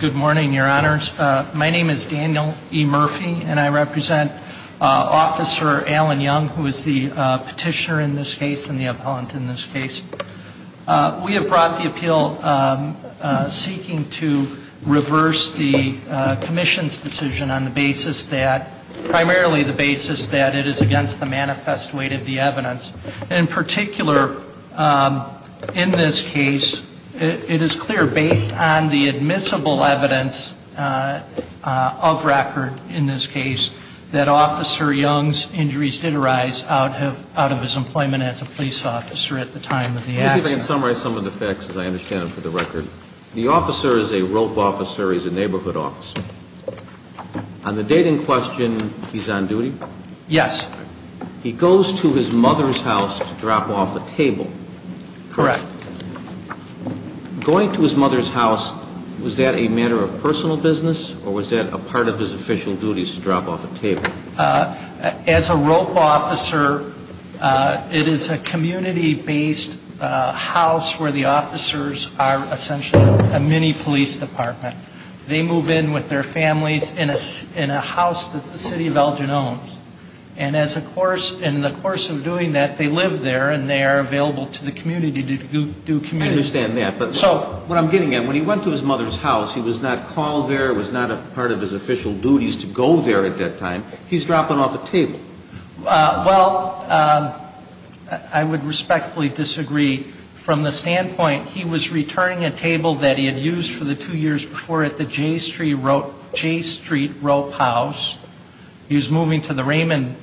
Good morning, your honors. My name is Daniel E. Murphy, and I represent Officer Allen Young, who is the petitioner in this case and the appeal seeking to reverse the commission's decision on the basis that, primarily the basis that it is against the manifest weight of the evidence. In particular, in this case, it is clear, based on the admissible evidence of record in this case, that Officer Young's injuries did arise out of his employment as a police officer at the time of the accident. The officer is a rope officer. He's a neighborhood officer. On the date in question, he's on duty? Yes. He goes to his mother's house to drop off a table? Correct. Going to his mother's house, was that a matter of personal business, or was that a part of his official duties to drop off a table? As a rope officer, it is a community-based house where the officers are essentially a mini-police department. They move in with their families in a house that the city of Elgin owns. And as a course, in the course of doing that, they live there and they are available to the community to do community service. But what I'm getting at, when he went to his mother's house, he was not called there, was not a part of his official duties to go there at that time. He's dropping off a table. Well, I would respectfully disagree. From the standpoint, he was returning a table that he had used for the two years before at the J Street Rope House. He was moving to the Raymond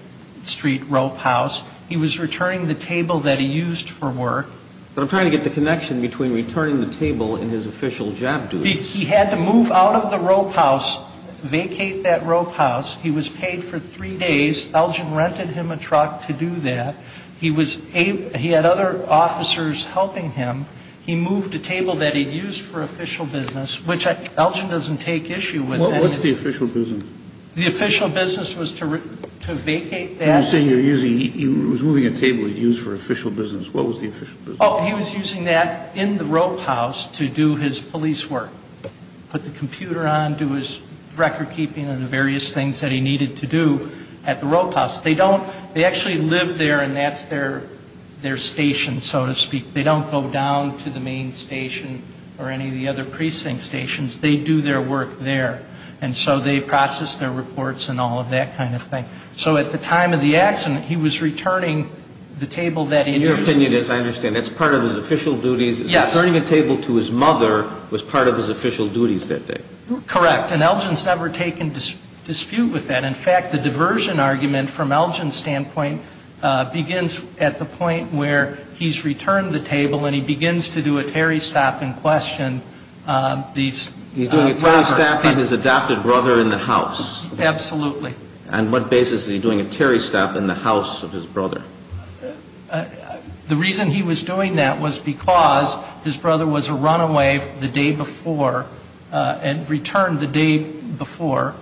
Street Rope House. He was returning the table that he used for work. But I'm trying to get the connection between returning the table and his official job duties. He had to move out of the Rope House, vacate that Rope House. He was paid for three days. Elgin rented him a truck to do that. He had other officers helping him. He moved a table that he used for official business, which Elgin doesn't take issue with. He was using that in the Rope House to do his police work. Put the computer on, do his record keeping and the various things that he needed to do at the Rope House. They don't, they actually live there and that's their station, so to speak. They don't go down to the main station or any of the other precinct stations. They do their work there. And so they process their reports and all of that kind of thing. So at the time of the accident, he was returning the table that he had used. In your opinion, as I understand, that's part of his official duties. Yes. Returning a table to his mother was part of his official duties that day. Correct. And Elgin's never taken dispute with that. In fact, the diversion argument from Elgin's standpoint begins at the point where he's returned the table and he begins to do a Terry stop and question. He's doing a Terry stop on his adopted brother in the house. Absolutely. On what basis is he doing a Terry stop in the house of his brother? The reason he was doing that was because his brother was a runaway the day before and returned the day before.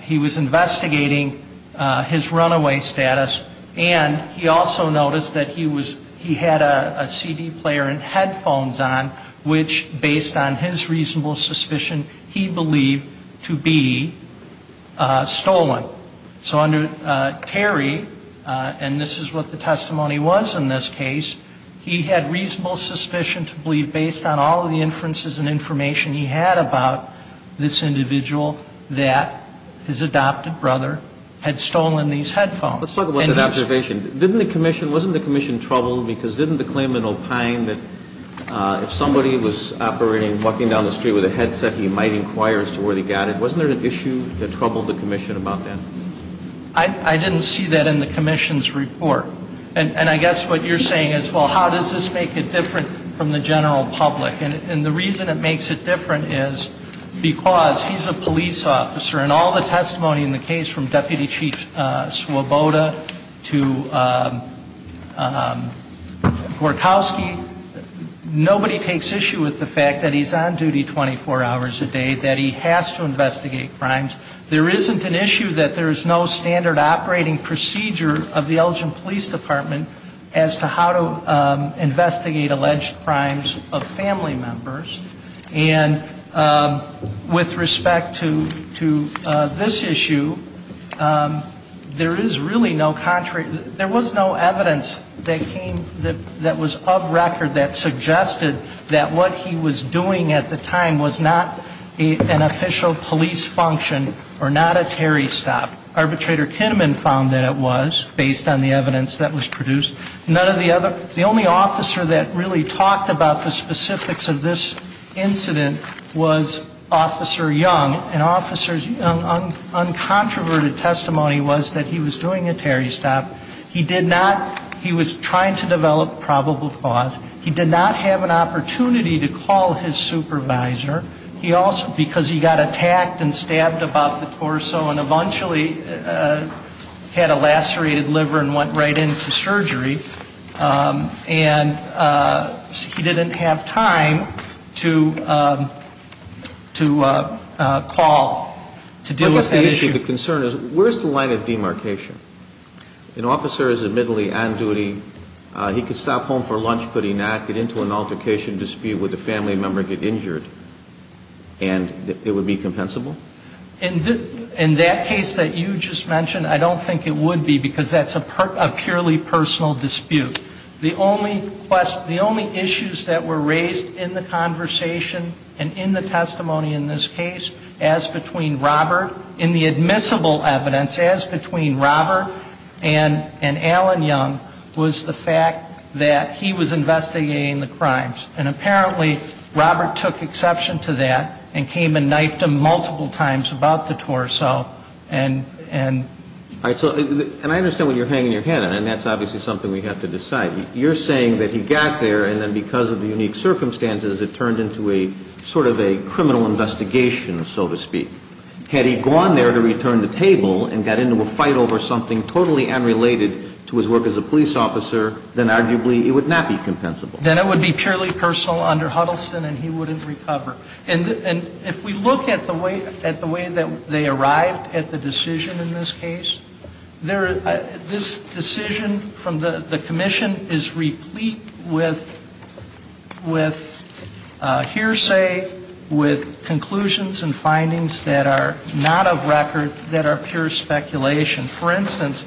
He was investigating his runaway status and he also noticed that he was, he had a CD player and headphones on, which based on his reasonable suspicion, he believed to be stolen. So under Terry, and this is what the testimony was in this case, he had reasonable suspicion to believe based on all of the inferences and information he had about this individual that his adopted brother had stolen these headphones. Let's talk about that observation. Wasn't the commission troubled because didn't the claimant opine that if somebody was operating, walking down the street with a headset, he might inquire as to where they got it? Wasn't there an issue that troubled the commission about that? I didn't see that in the commission's report. And I guess what you're saying is, well, how does this make it different from the general public? And the reason it makes it different is because he's a police officer and all the testimony in the case from Deputy Chief Swoboda to Gorkowski, nobody takes issue with the fact that he's on duty 24 hours a day, that he has to investigate crimes. There isn't an issue that there is no standard operating procedure of the Elgin Police Department as to how to investigate alleged crimes of family members. And with respect to this issue, there is really no contrary. There was no evidence that came that was of record that suggested that what he was doing at the time was not an official police function or not a Terry stop. Arbitrator Kinnaman found that it was based on the evidence that was produced. None of the other, the only officer that really talked about the specifics of this incident was Officer Young. And Officer Young's uncontroverted testimony was that he was doing a Terry stop. He did not, he was trying to develop probable cause. He did not have an opportunity to call his supervisor. Because he got attacked and stabbed about the torso and eventually had a lacerated liver and went right into surgery. And he didn't have time to call to deal with that issue. The concern is, where's the line of demarcation? In that case that you just mentioned, I don't think it would be because that's a purely personal dispute. The only questions, the only issues that were raised in the conversation and in the testimony in this case, as between Robert, in the admissible evidence, as between Robert and Alan Young, was the fact that he was doing a Terry stop. He was investigating the crimes. And apparently Robert took exception to that and came and knifed him multiple times about the torso. And I understand what you're hanging your head in. And that's obviously something we have to decide. You're saying that he got there and then because of the unique circumstances, it turned into a sort of a criminal investigation, so to speak. Had he gone there to return the table and got into a fight over something totally unrelated to his work as a police officer, then arguably it would not be compensable. Then it would be purely personal under Huddleston and he wouldn't recover. And if we look at the way that they arrived at the decision in this case, this decision from the commission is replete with hearsay, with conclusions and findings that are not of record, that are pure speculation. For instance,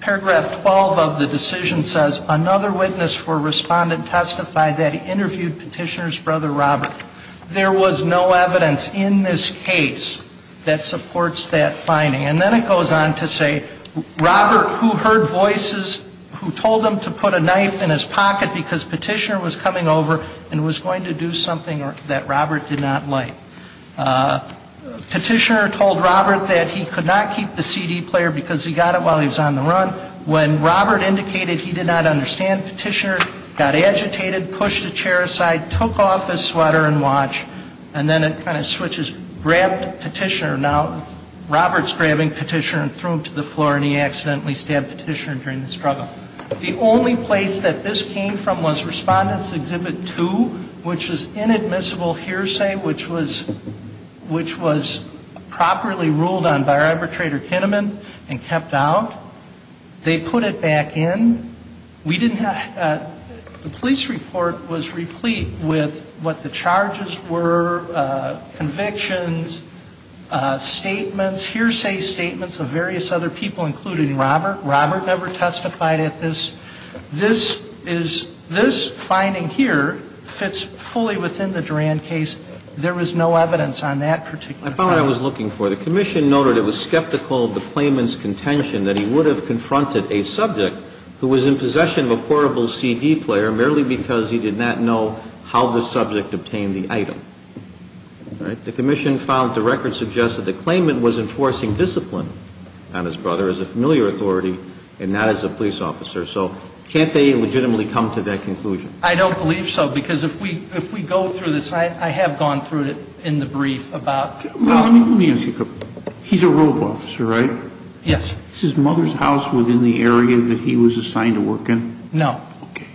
paragraph 12 of the decision says, another witness for Respondent testified that he interviewed Petitioner's brother Robert. There was no evidence in this case that supports that finding. And then it goes on to say, Robert, who heard voices, who told him to put a knife in his pocket because Petitioner was coming over and was going to do something that Robert did not like. Petitioner told Robert that he could not keep the CD player because he got it while he was on the run. When Robert indicated he did not understand Petitioner, got agitated, pushed the chair aside, took off his sweater and watch, and then it kind of switches, grabbed Petitioner. Now Robert's grabbing Petitioner and threw him to the floor and he accidentally stabbed Petitioner during the struggle. The only place that this came from was Respondent's Exhibit 2, which is inadmissible hearsay, which was properly ruled on by Arbitrator Kinnaman and kept out. They put it back in. We didn't have the police report was replete with what the charges were, convictions, statements, hearsay statements of various other people, including Robert. Robert never testified at this. This is, this finding here fits fully within the Duran case. There was no evidence on that particular case. I thought I was looking for it. The Commission noted it was skeptical of the claimant's contention that he would have confronted a subject who was in possession of a portable CD player merely because he did not know how the subject obtained the item. All right. The Commission found the record suggested the claimant was enforcing discipline on his brother as a familiar authority and not as a police officer. So can't they legitimately come to that conclusion? I don't believe so, because if we go through this, I have gone through it in the brief about Robert. Let me ask you a question. He's a rope officer, right? Yes. Is his mother's house within the area that he was assigned to work in? No. Okay.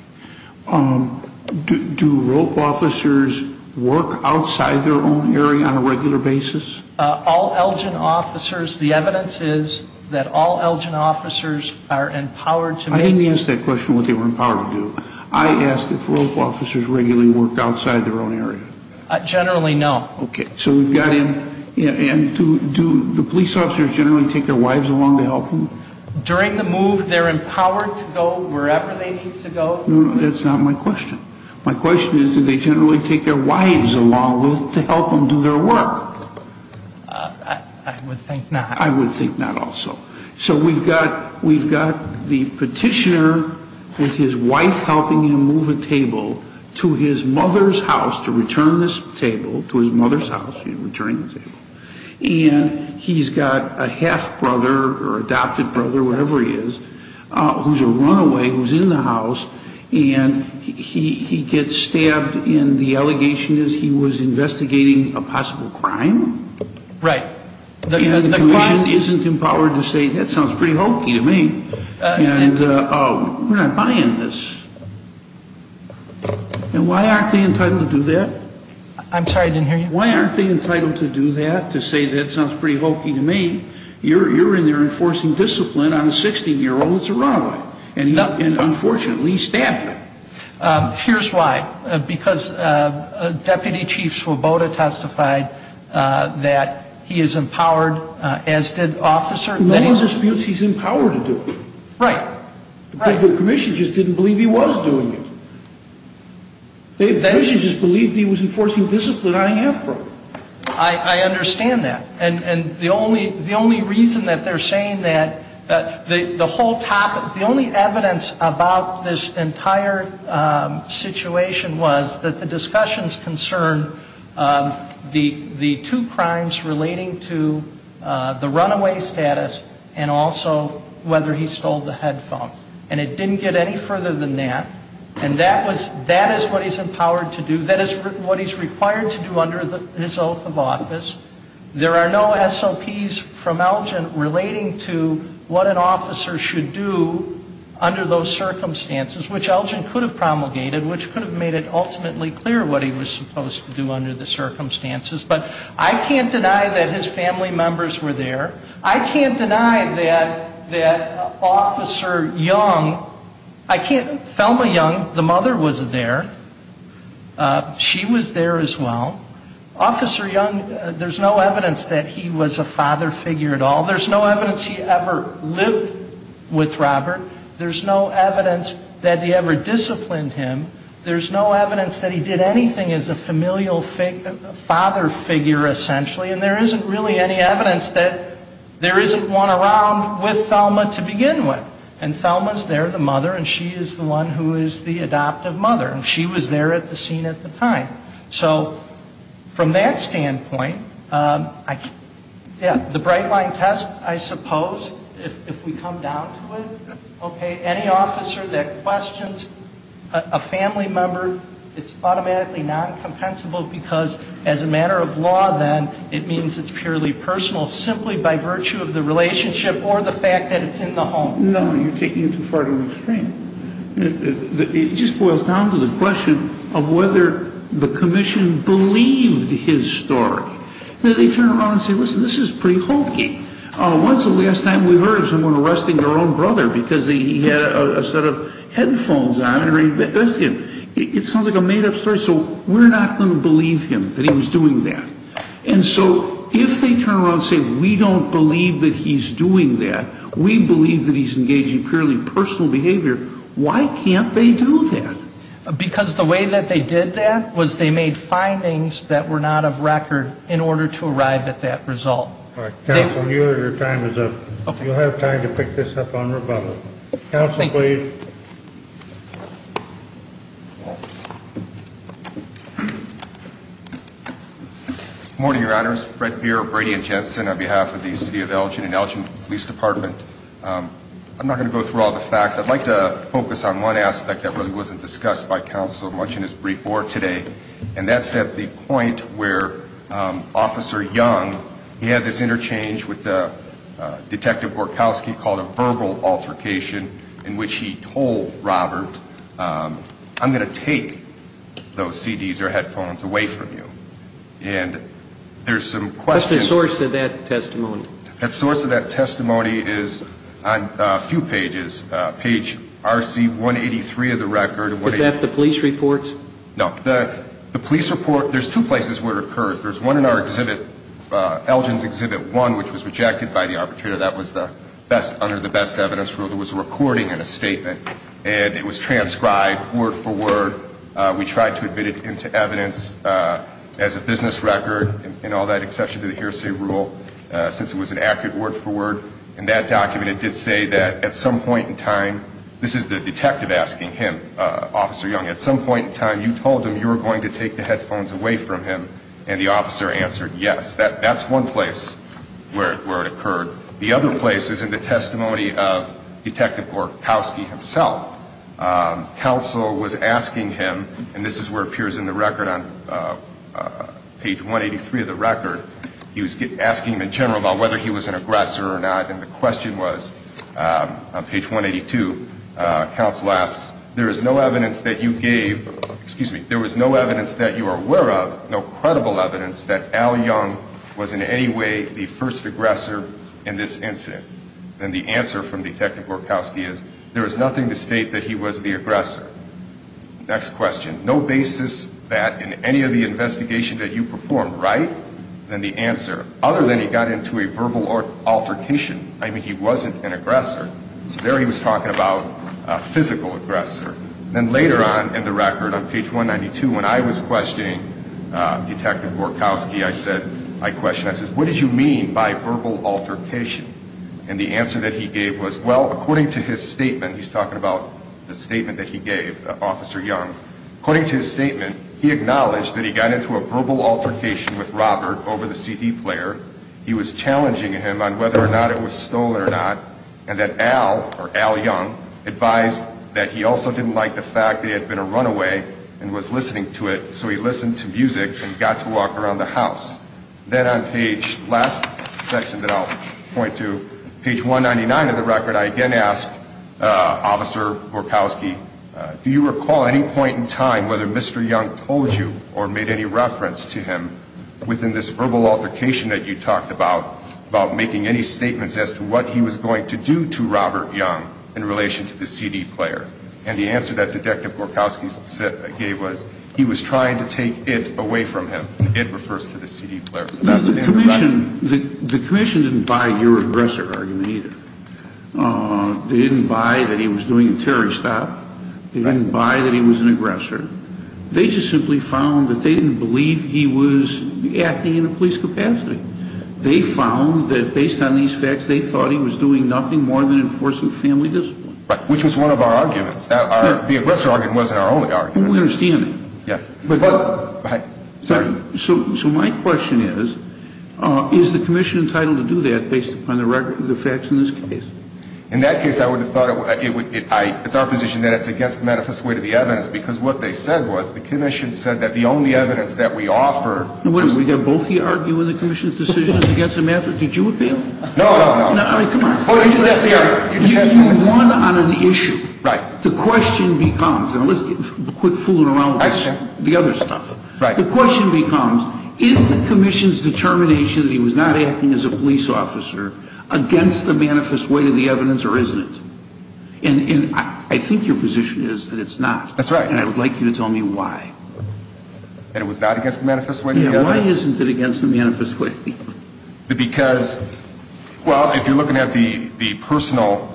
Do rope officers work outside their own area on a regular basis? All Elgin officers, the evidence is that all Elgin officers are empowered to make... I didn't ask that question, what they were empowered to do. I asked if rope officers regularly worked outside their own area. Generally, no. Okay. So we've got him, and do the police officers generally take their wives along to help them? During the move, they're empowered to go wherever they need to go. That's not my question. My question is, do they generally take their wives along to help them do their work? I would think not. I would think not also. So we've got the petitioner with his wife helping him move a table to his mother's house to return this table, to his mother's house, and he's got a half-brother or adopted brother, whatever he is, who's a runaway, who's in the house, and he gets stabbed, and the allegation is he was investigating a possible crime? Right. And the commission isn't empowered to say, that sounds pretty hokey to me, and we're not buying this. And why aren't they entitled to do that? I'm sorry, I didn't hear you. Why aren't they entitled to do that, to say that sounds pretty hokey to me? You're in there enforcing discipline on a 16-year-old that's a runaway, and, unfortunately, he's stabbed. Here's why. Because Deputy Chief Swoboda testified that he is empowered, as did Officer Laney. No one disputes he's empowered to do it. Right. The commission just didn't believe he was doing it. The commission just believed he was enforcing discipline on a half-brother. I understand that. And the only reason that they're saying that, the whole topic, the only evidence about this entire situation was that the discussions concerned the two crimes relating to the runaway status and also whether he stole the headphone. And it didn't get any further than that. And that is what he's empowered to do. That is what he's required to do under his oath of office. There are no SOPs from Elgin relating to what an officer should do under those circumstances, which Elgin could have promulgated, which could have made it ultimately clear what he was supposed to do under the circumstances. But I can't deny that his family members were there. I can't deny that Officer Young, I can't, Thelma Young, the mother was there. She was there as well. Officer Young, there's no evidence that he was a father figure at all. There's no evidence he ever lived with Robert. There's no evidence that he ever disciplined him. There's no evidence that he did anything as a familial father figure, essentially. And there isn't really any evidence that there isn't one around with Thelma to begin with. And Thelma's there, the mother, and she is the one who is the adoptive mother. And she was there at the scene at the time. So from that standpoint, yeah, the bright line test, I suppose, if we come down to it, okay, any officer that questions a family member, it's automatically non-compensable because as a matter of law, then it means it's purely personal simply by virtue of the relationship or the fact that it's in the home. No, you're taking it too far to the extreme. It just boils down to the question of whether the commission believed his story. They turn around and say, listen, this is pretty hokey. When's the last time we heard of someone arresting their own brother because he had a set of headphones on? It sounds like a made-up story. So we're not going to believe him that he was doing that. And so if they turn around and say we don't believe that he's doing that, we believe that he's engaging purely personal behavior, why can't they do that? Because the way that they did that was they made findings that were not of record in order to arrive at that result. All right. Counsel, your time is up. You'll have time to pick this up on rebuttal. Counsel, please. Morning, Your Honors. Brett Beer of Brady and Jensen on behalf of the City of Elgin and Elgin Police Department. I'm not going to go through all the facts. I'd like to focus on one aspect that really wasn't discussed by counsel much in his brief board today, and that's at the point where Officer Young, he had this interchange with Detective Gorkowski called a verbal altercation in which he told Robert, I'm going to take those CDs or headphones away from you. And there's some questions. What's the source of that testimony? The source of that testimony is on a few pages. Page RC183 of the record. Was that the police report? No. The police report, there's two places where it occurred. There's one in our exhibit, Elgin's Exhibit 1, which was rejected by the arbitrator. That was under the best evidence rule. There was a recording and a statement, and it was transcribed word for word. We tried to admit it into evidence as a business record and all that, except for the hearsay rule, since it was an accurate word for word. In that document, it did say that at some point in time, this is the detective asking him, Officer Young, at some point in time you told him you were going to take the headphones away from him, and the officer answered yes. That's one place where it occurred. The other place is in the testimony of Detective Gorkowski himself. Counsel was asking him, and this is where it appears in the record on page 183 of the record. He was asking him in general about whether he was an aggressor or not, and the question was, on page 182, counsel asks, there is no evidence that you gave, excuse me, there was no evidence that you are aware of, no credible evidence that Al Young was in any way the first aggressor in this incident. And the answer from Detective Gorkowski is, there is nothing to state that he was the aggressor. Next question, no basis that in any of the investigation that you performed, right? And the answer, other than he got into a verbal altercation, I mean, he wasn't an aggressor. So there he was talking about a physical aggressor. And then later on in the record, on page 192, when I was questioning Detective Gorkowski, I said, I questioned, I said, what did you mean by verbal altercation? And the answer that he gave was, well, according to his statement, he's talking about the statement that he gave, Officer Young, according to his statement, he acknowledged that he got into a verbal altercation with Robert over the CD player. He was challenging him on whether or not it was stolen or not, and that Al, or Al Young, advised that he also didn't like the fact that he had been a runaway and was listening to it, so he listened to music and got to walk around the house. Then on page, last section that I'll point to, page 199 of the record, I again asked Officer Gorkowski, do you recall any point in time whether Mr. Young told you or made any reference to him within this verbal altercation that you talked about, about making any statements as to what he was going to do to Robert Young in relation to the CD player? And the answer that Detective Gorkowski gave was, he was trying to take it away from him. It refers to the CD player. The commission didn't buy your aggressor argument either. They didn't buy that he was doing a terrorist act. They didn't buy that he was an aggressor. They just simply found that they didn't believe he was acting in a police capacity. They found that based on these facts, they thought he was doing nothing more than enforcing family discipline. Right. Which was one of our arguments. The aggressor argument wasn't our only argument. We understand that. Yes. But, but, sorry. So my question is, is the commission entitled to do that based upon the facts in this case? In that case, I would have thought it would, it's our position that it's against the manifest way to the evidence because what they said was, the commission said that the only evidence that we offer. Now, what is it? Did both of you argue in the commission's decision against the manifest? Did you appeal? No, no, no. I mean, come on. Well, you just asked the other. You just asked the other. You won on an issue. Right. The question becomes, and let's get, quit fooling around with the other stuff. Right. The question becomes, is the commission's determination that he was not acting as a police officer against the manifest way to the evidence or isn't it? And I think your position is that it's not. That's right. And I would like you to tell me why. That it was not against the manifest way to the evidence? Yeah, why isn't it against the manifest way to the evidence? Because, well, if you're looking at the personal,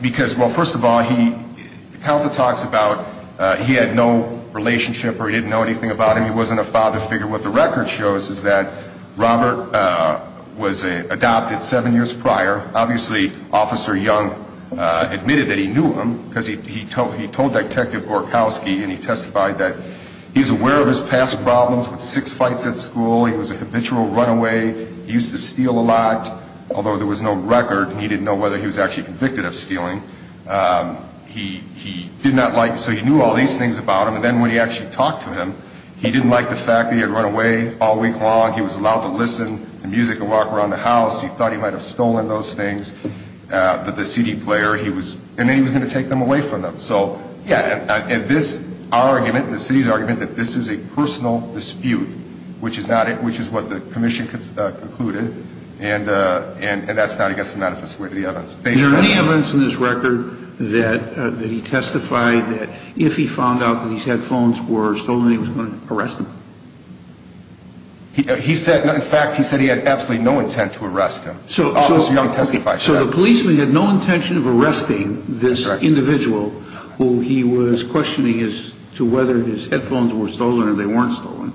because, well, first of all, he, the counsel talks about he had no relationship or he didn't know anything about him. He wasn't a father figure. What the record shows is that Robert was adopted seven years prior. Obviously, Officer Young admitted that he knew him because he told Detective Gorkowski and he testified that he was aware of his past problems with six fights at school. He was a habitual runaway. He used to steal a lot, although there was no record. He didn't know whether he was actually convicted of stealing. He did not like, so he knew all these things about him. And then when he actually talked to him, he didn't like the fact that he had run away all week long. He was allowed to listen to music and walk around the house. He thought he might have stolen those things. The city player, he was, and then he was going to take them away from them. So, yeah, this argument, the city's argument that this is a personal dispute, which is what the commission concluded, and that's not against the manifest way to the evidence. Is there any evidence in this record that he testified that if he found out that these headphones were stolen, he was going to arrest him? He said, in fact, he said he had absolutely no intent to arrest him. So the policeman had no intention of arresting this individual who he was questioning as to whether his headphones were stolen or they weren't stolen.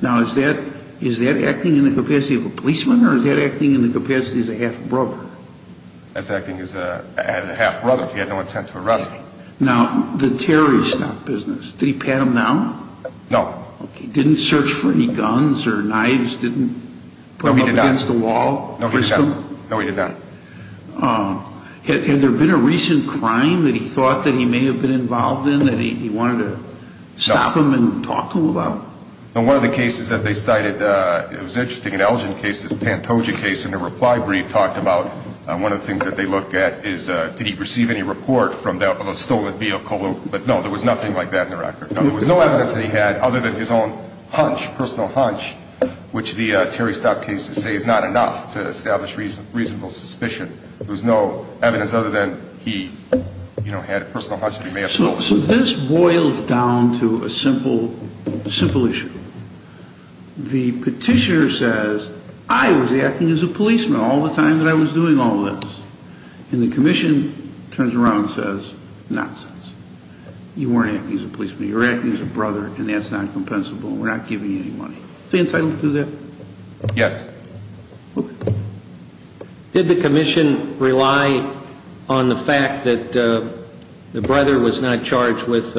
Now, is that acting in the capacity of a policeman or is that acting in the capacity as a half brother? That's acting as a half brother if he had no intent to arrest him. Now, the terrorist business, did he pat him down? No. Okay. Didn't search for any guns or knives? No, he did not. Didn't put them up against the wall? No, he did not. No, he did not. Had there been a recent crime that he thought that he may have been involved in that he wanted to stop him and talk to him about? No. In one of the cases that they cited, it was interesting, an Elgin case, this Pantoja case, in a reply brief talked about one of the things that they looked at is did he receive any report from the stolen vehicle? But, no, there was nothing like that in the record. There was no evidence that he had other than his own hunch, personal hunch, which the Terry Stock cases say is not enough to establish reasonable suspicion. There was no evidence other than he, you know, had a personal hunch that he may have stolen. So this boils down to a simple issue. The petitioner says, I was acting as a policeman all the time that I was doing all this. And the commission turns around and says, nonsense. You weren't acting as a policeman. You were acting as a brother, and that's not compensable. We're not giving you any money. Is the entitlement to that? Yes. Okay. Did the commission rely on the fact that the brother was not charged with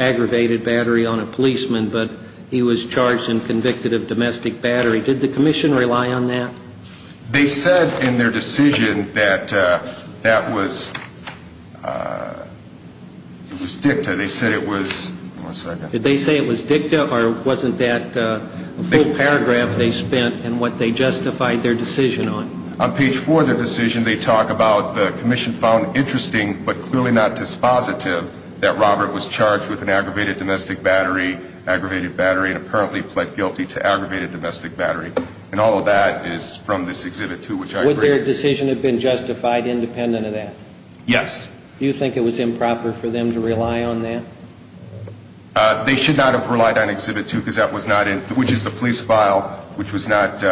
aggravated battery on a policeman, but he was charged and convicted of domestic battery? Did the commission rely on that? They said in their decision that that was dicta. They said it was... one second. Did they say it was dicta, or wasn't that a full paragraph they spent in what they justified their decision on? On page four of their decision, they talk about the commission found interesting, but clearly not dispositive that Robert was charged with an aggravated domestic battery, aggravated battery, and apparently pled guilty to aggravated domestic battery. And all of that is from this Exhibit 2, which I agree. Would their decision have been justified independent of that? Yes. Do you think it was improper for them to rely on that? They should not have relied on Exhibit 2, which is the police file, which was not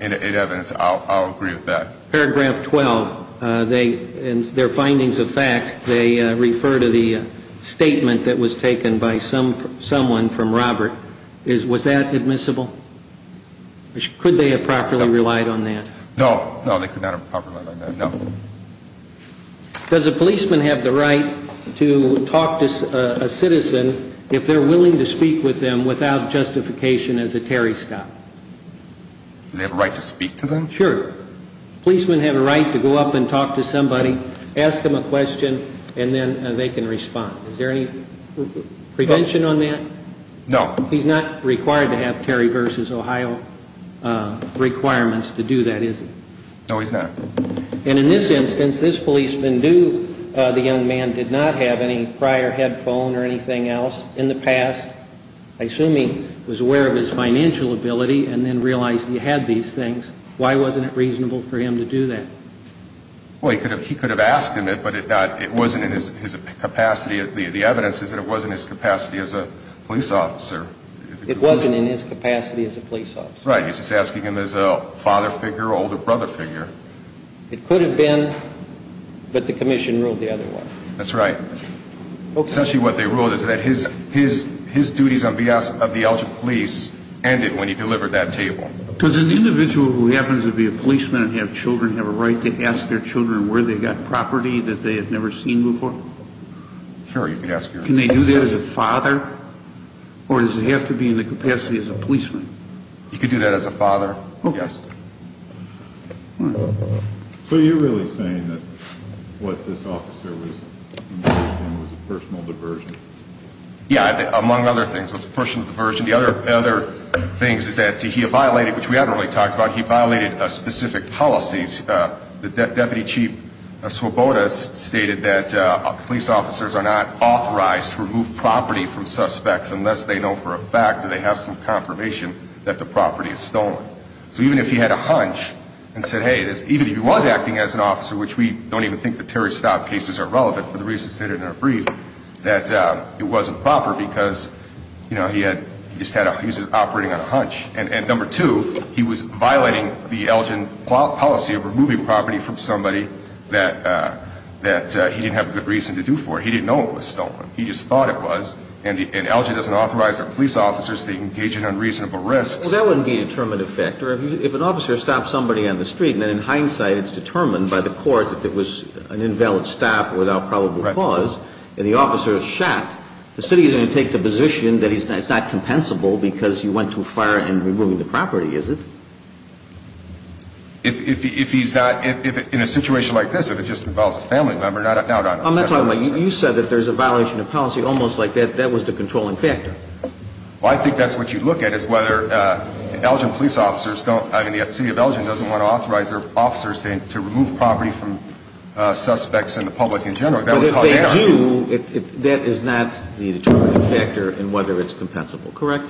in evidence. I'll agree with that. Paragraph 12, in their findings of fact, they refer to the statement that was taken by someone from Robert. Was that admissible? Could they have properly relied on that? No. No, they could not have properly relied on that. No. Does a policeman have the right to talk to a citizen if they're willing to speak with them without justification as a Terry stop? Do they have a right to speak to them? Sure. Policemen have a right to go up and talk to somebody, ask them a question, and then they can respond. Is there any prevention on that? No. He's not required to have Terry v. Ohio requirements to do that, is he? No, he's not. And in this instance, this policeman knew the young man did not have any prior headphone or anything else in the past. I assume he was aware of his financial ability and then realized he had these things. Why wasn't it reasonable for him to do that? Well, he could have asked him it, but it wasn't in his capacity. The evidence is that it wasn't in his capacity as a police officer. It wasn't in his capacity as a police officer. Right. He's just asking him as a father figure or older brother figure. It could have been, but the commission ruled the other way. That's right. Essentially what they ruled is that his duties on behalf of the Elgin police ended when he delivered that table. Does an individual who happens to be a policeman and have children have a right to ask their children where they got property that they had never seen before? Sure, you can ask your own children. Can they do that as a father, or does it have to be in the capacity as a policeman? You could do that as a father, yes. Okay. So you're really saying that what this officer was involved in was a personal diversion? Yeah, among other things, it was a personal diversion. The other thing is that he violated, which we haven't really talked about, he violated specific policies. Deputy Chief Swoboda stated that police officers are not authorized to remove property from suspects unless they know for a fact that they have some confirmation that the property is stolen. So even if he had a hunch and said, hey, even if he was acting as an officer, which we don't even think the Terry Stott cases are relevant for the reasons stated in our brief, that it wasn't proper because, you know, he was operating on a hunch. And number two, he was violating the Elgin policy of removing property from somebody that he didn't have a good reason to do for. He didn't know it was stolen. He just thought it was. And Elgin doesn't authorize our police officers to engage in unreasonable risks. Well, that wouldn't be a determined effect. If an officer stops somebody on the street and then in hindsight it's determined by the court that it was an invalid stop without probable cause, and the officer is shot, the city is going to take the position that it's not compensable because you went too far in removing the property, is it? If he's not – in a situation like this, if it just involves a family member, no, no. I'm not talking about – you said that there's a violation of policy almost like that. That was the controlling factor. Well, I think that's what you look at is whether Elgin police officers don't – I mean, the city of Elgin doesn't want to authorize their officers to remove property from suspects and the public in general. But if they do, that is not the determining factor in whether it's compensable, correct?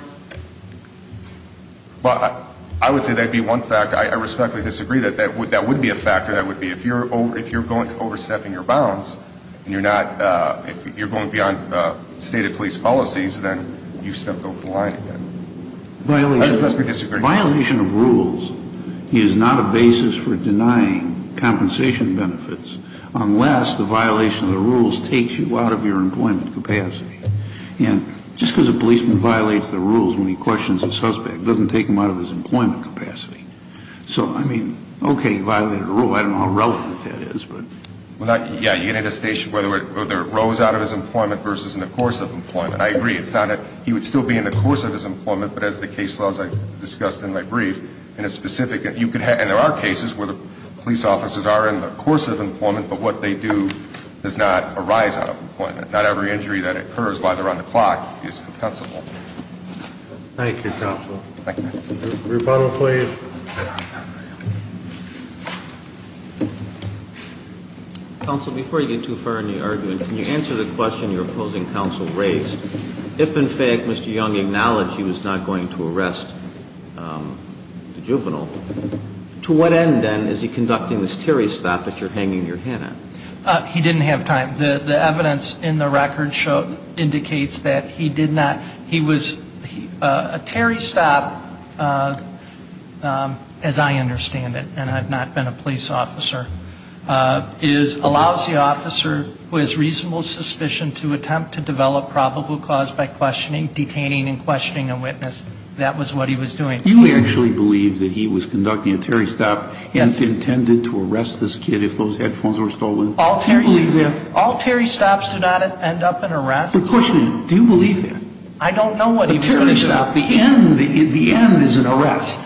Well, I would say that would be one fact. I respectfully disagree that that would be a factor. That would be – if you're going to overstepping your bounds and you're not – if you're going beyond stated police policies, then you've stepped over the line again. Violation of rules is not a basis for denying compensation benefits unless the violation of the rules takes you out of your employment capacity. And just because a policeman violates the rules when he questions a suspect doesn't take him out of his employment capacity. So, I mean, okay, he violated a rule. I don't know how relevant that is, but – Well, yeah, you had a station whether it rose out of his employment versus in the course of employment. I agree. It's not a – he would still be in the course of his employment, but as the case laws I discussed in my brief, in a specific – and there are cases where the police officers are in the course of employment, but what they do does not arise out of employment. Not every injury that occurs while they're on the clock is compensable. Thank you, counsel. Rebuttal, please. Counsel, before you get too far in the argument, can you answer the question you're opposing counsel raised? If, in fact, Mr. Young acknowledged he was not going to arrest the juvenile, to what end, then, is he conducting this Terry stop that you're hanging your hand at? He didn't have time. The evidence in the record indicates that he did not – he was – a Terry stop, as I understand it, and I've not been a police officer, is – allows the officer who has reasonable suspicion to attempt to develop probable cause by questioning, detaining, and questioning a witness. That was what he was doing. You actually believe that he was conducting a Terry stop and intended to arrest this kid if those headphones were stolen? All Terry stops do not end up in arrests. The question is, do you believe that? I don't know what he was going to do. A Terry stop, the end is an arrest.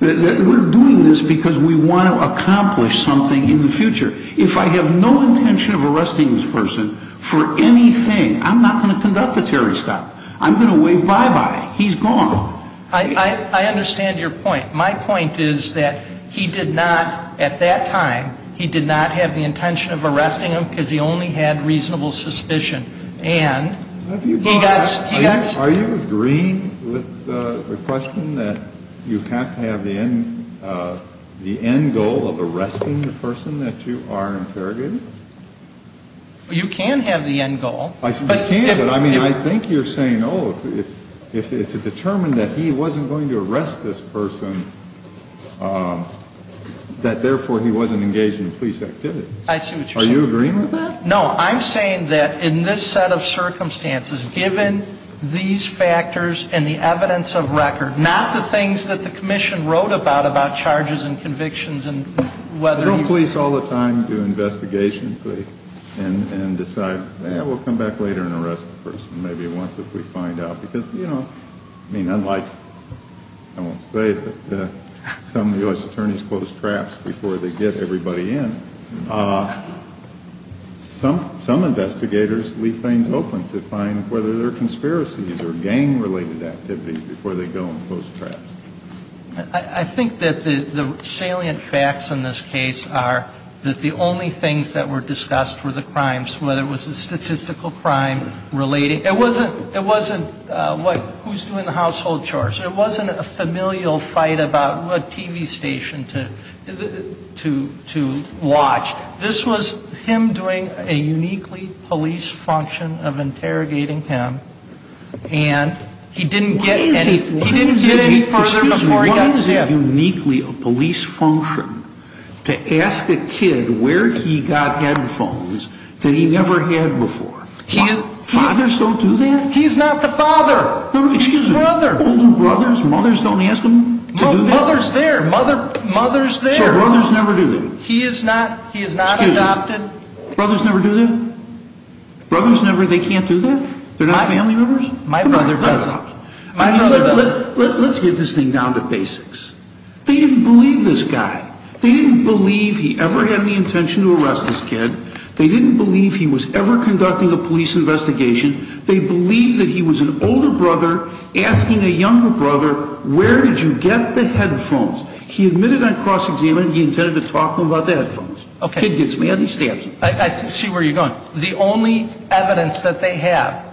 We're doing this because we want to accomplish something in the future. If I have no intention of arresting this person for anything, I'm not going to conduct a Terry stop. I'm going to wave bye-bye. He's gone. I understand your point. My point is that he did not, at that time, he did not have the intention of arresting him because he only had reasonable suspicion. And he got – he got – Are you agreeing with the question that you have to have the end goal of arresting the person that you are interrogating? You can have the end goal. You can, but I mean, I think you're saying, oh, if it's determined that he wasn't going to arrest this person, that therefore he wasn't engaged in police activity. I see what you're saying. Are you agreeing with that? No, I'm saying that in this set of circumstances, given these factors and the evidence of record, not the things that the commission wrote about, about charges and convictions and whether you – Don't police all the time do investigations and decide, yeah, we'll come back later and arrest the person maybe once if we find out. Because, you know, I mean, unlike – I won't say it, but some U.S. attorneys close traps before they get everybody in. Some investigators leave things open to find whether there are conspiracies or gang-related activities before they go and close traps. I think that the salient facts in this case are that the only things that were discussed were the crimes, whether it was a statistical crime relating – it wasn't – it wasn't who's doing the household chores. It wasn't a familial fight about what TV station to – to watch. This was him doing a uniquely police function of interrogating him, and he didn't get any – What is a – He didn't get any further before he got stabbed. Excuse me. What is a uniquely a police function to ask a kid where he got headphones that he never had before? Why? Fathers don't do that? He's not the father. No, no, excuse me. He's an older brother. Older brothers? Mothers don't ask them to do that? Mother's there. Mother's there. So brothers never do that? He is not – he is not adopted. Excuse me. Brothers never do that? Brothers never – they can't do that? They're not family members? My brother doesn't. My brother doesn't. Let's get this thing down to basics. They didn't believe this guy. They didn't believe he ever had any intention to arrest this kid. They didn't believe he was ever conducting a police investigation. They believed that he was an older brother asking a younger brother, where did you get the headphones? He admitted on cross-examination he intended to talk to them about the headphones. Okay. The kid gets mad and he stabs him. I see where you're going. The only evidence that they have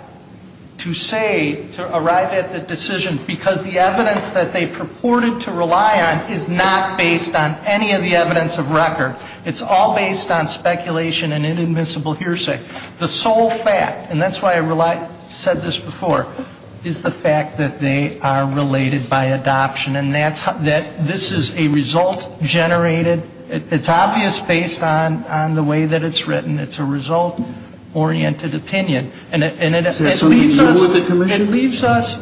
to say, to arrive at the decision, because the evidence that they purported to rely on is not based on any of the evidence of record. It's all based on speculation and inadmissible hearsay. The sole fact, and that's why I said this before, is the fact that they are related by adoption. And this is a result-generated – it's obvious based on the way that it's written. It's a result-oriented opinion. And it leaves us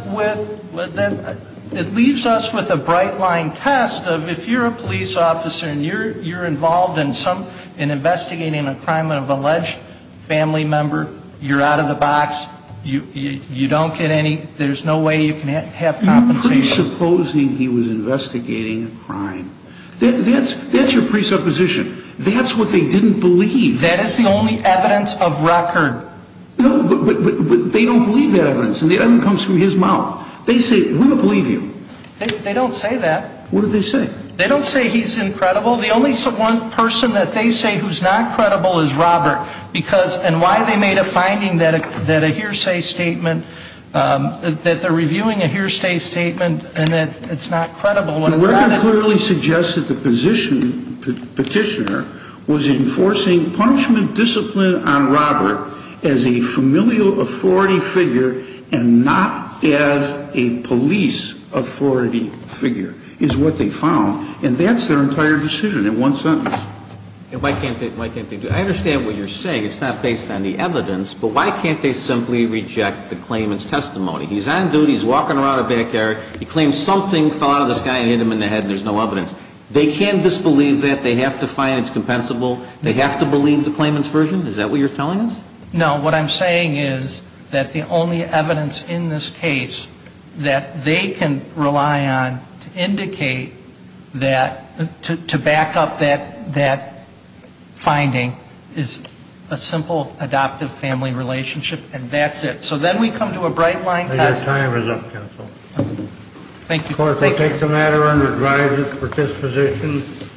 with a bright-line test of if you're a police officer and you're involved in investigating a crime of an alleged family member, you're out of the box, you don't get any – there's no way you can have compensation. Presupposing he was investigating a crime. That's your presupposition. That's what they didn't believe. That is the only evidence of record. No, but they don't believe that evidence. And the evidence comes from his mouth. They say, we don't believe you. They don't say that. What do they say? They don't say he's incredible. The only person that they say who's not credible is Robert. Because – and why they made a finding that a hearsay statement – that they're reviewing a hearsay statement and that it's not credible when it's not – The record clearly suggests that the petitioner was enforcing punishment discipline on Robert as a familial authority figure and not as a police authority figure, is what they found. And that's their entire decision in one sentence. And why can't they – I understand what you're saying. It's not based on the evidence. But why can't they simply reject the claimant's testimony? He's on duty. He's walking around the backyard. He claims something fell out of the sky and hit him in the head and there's no evidence. They can disbelieve that. They have to find it's compensable. They have to believe the claimant's version. Is that what you're telling us? No. What I'm saying is that the only evidence in this case that they can rely on to indicate that – to back up that finding is a simple adoptive family relationship and that's it. So then we come to a bright line. Your time is up, counsel. Thank you. The court will take the matter under driver's disposition.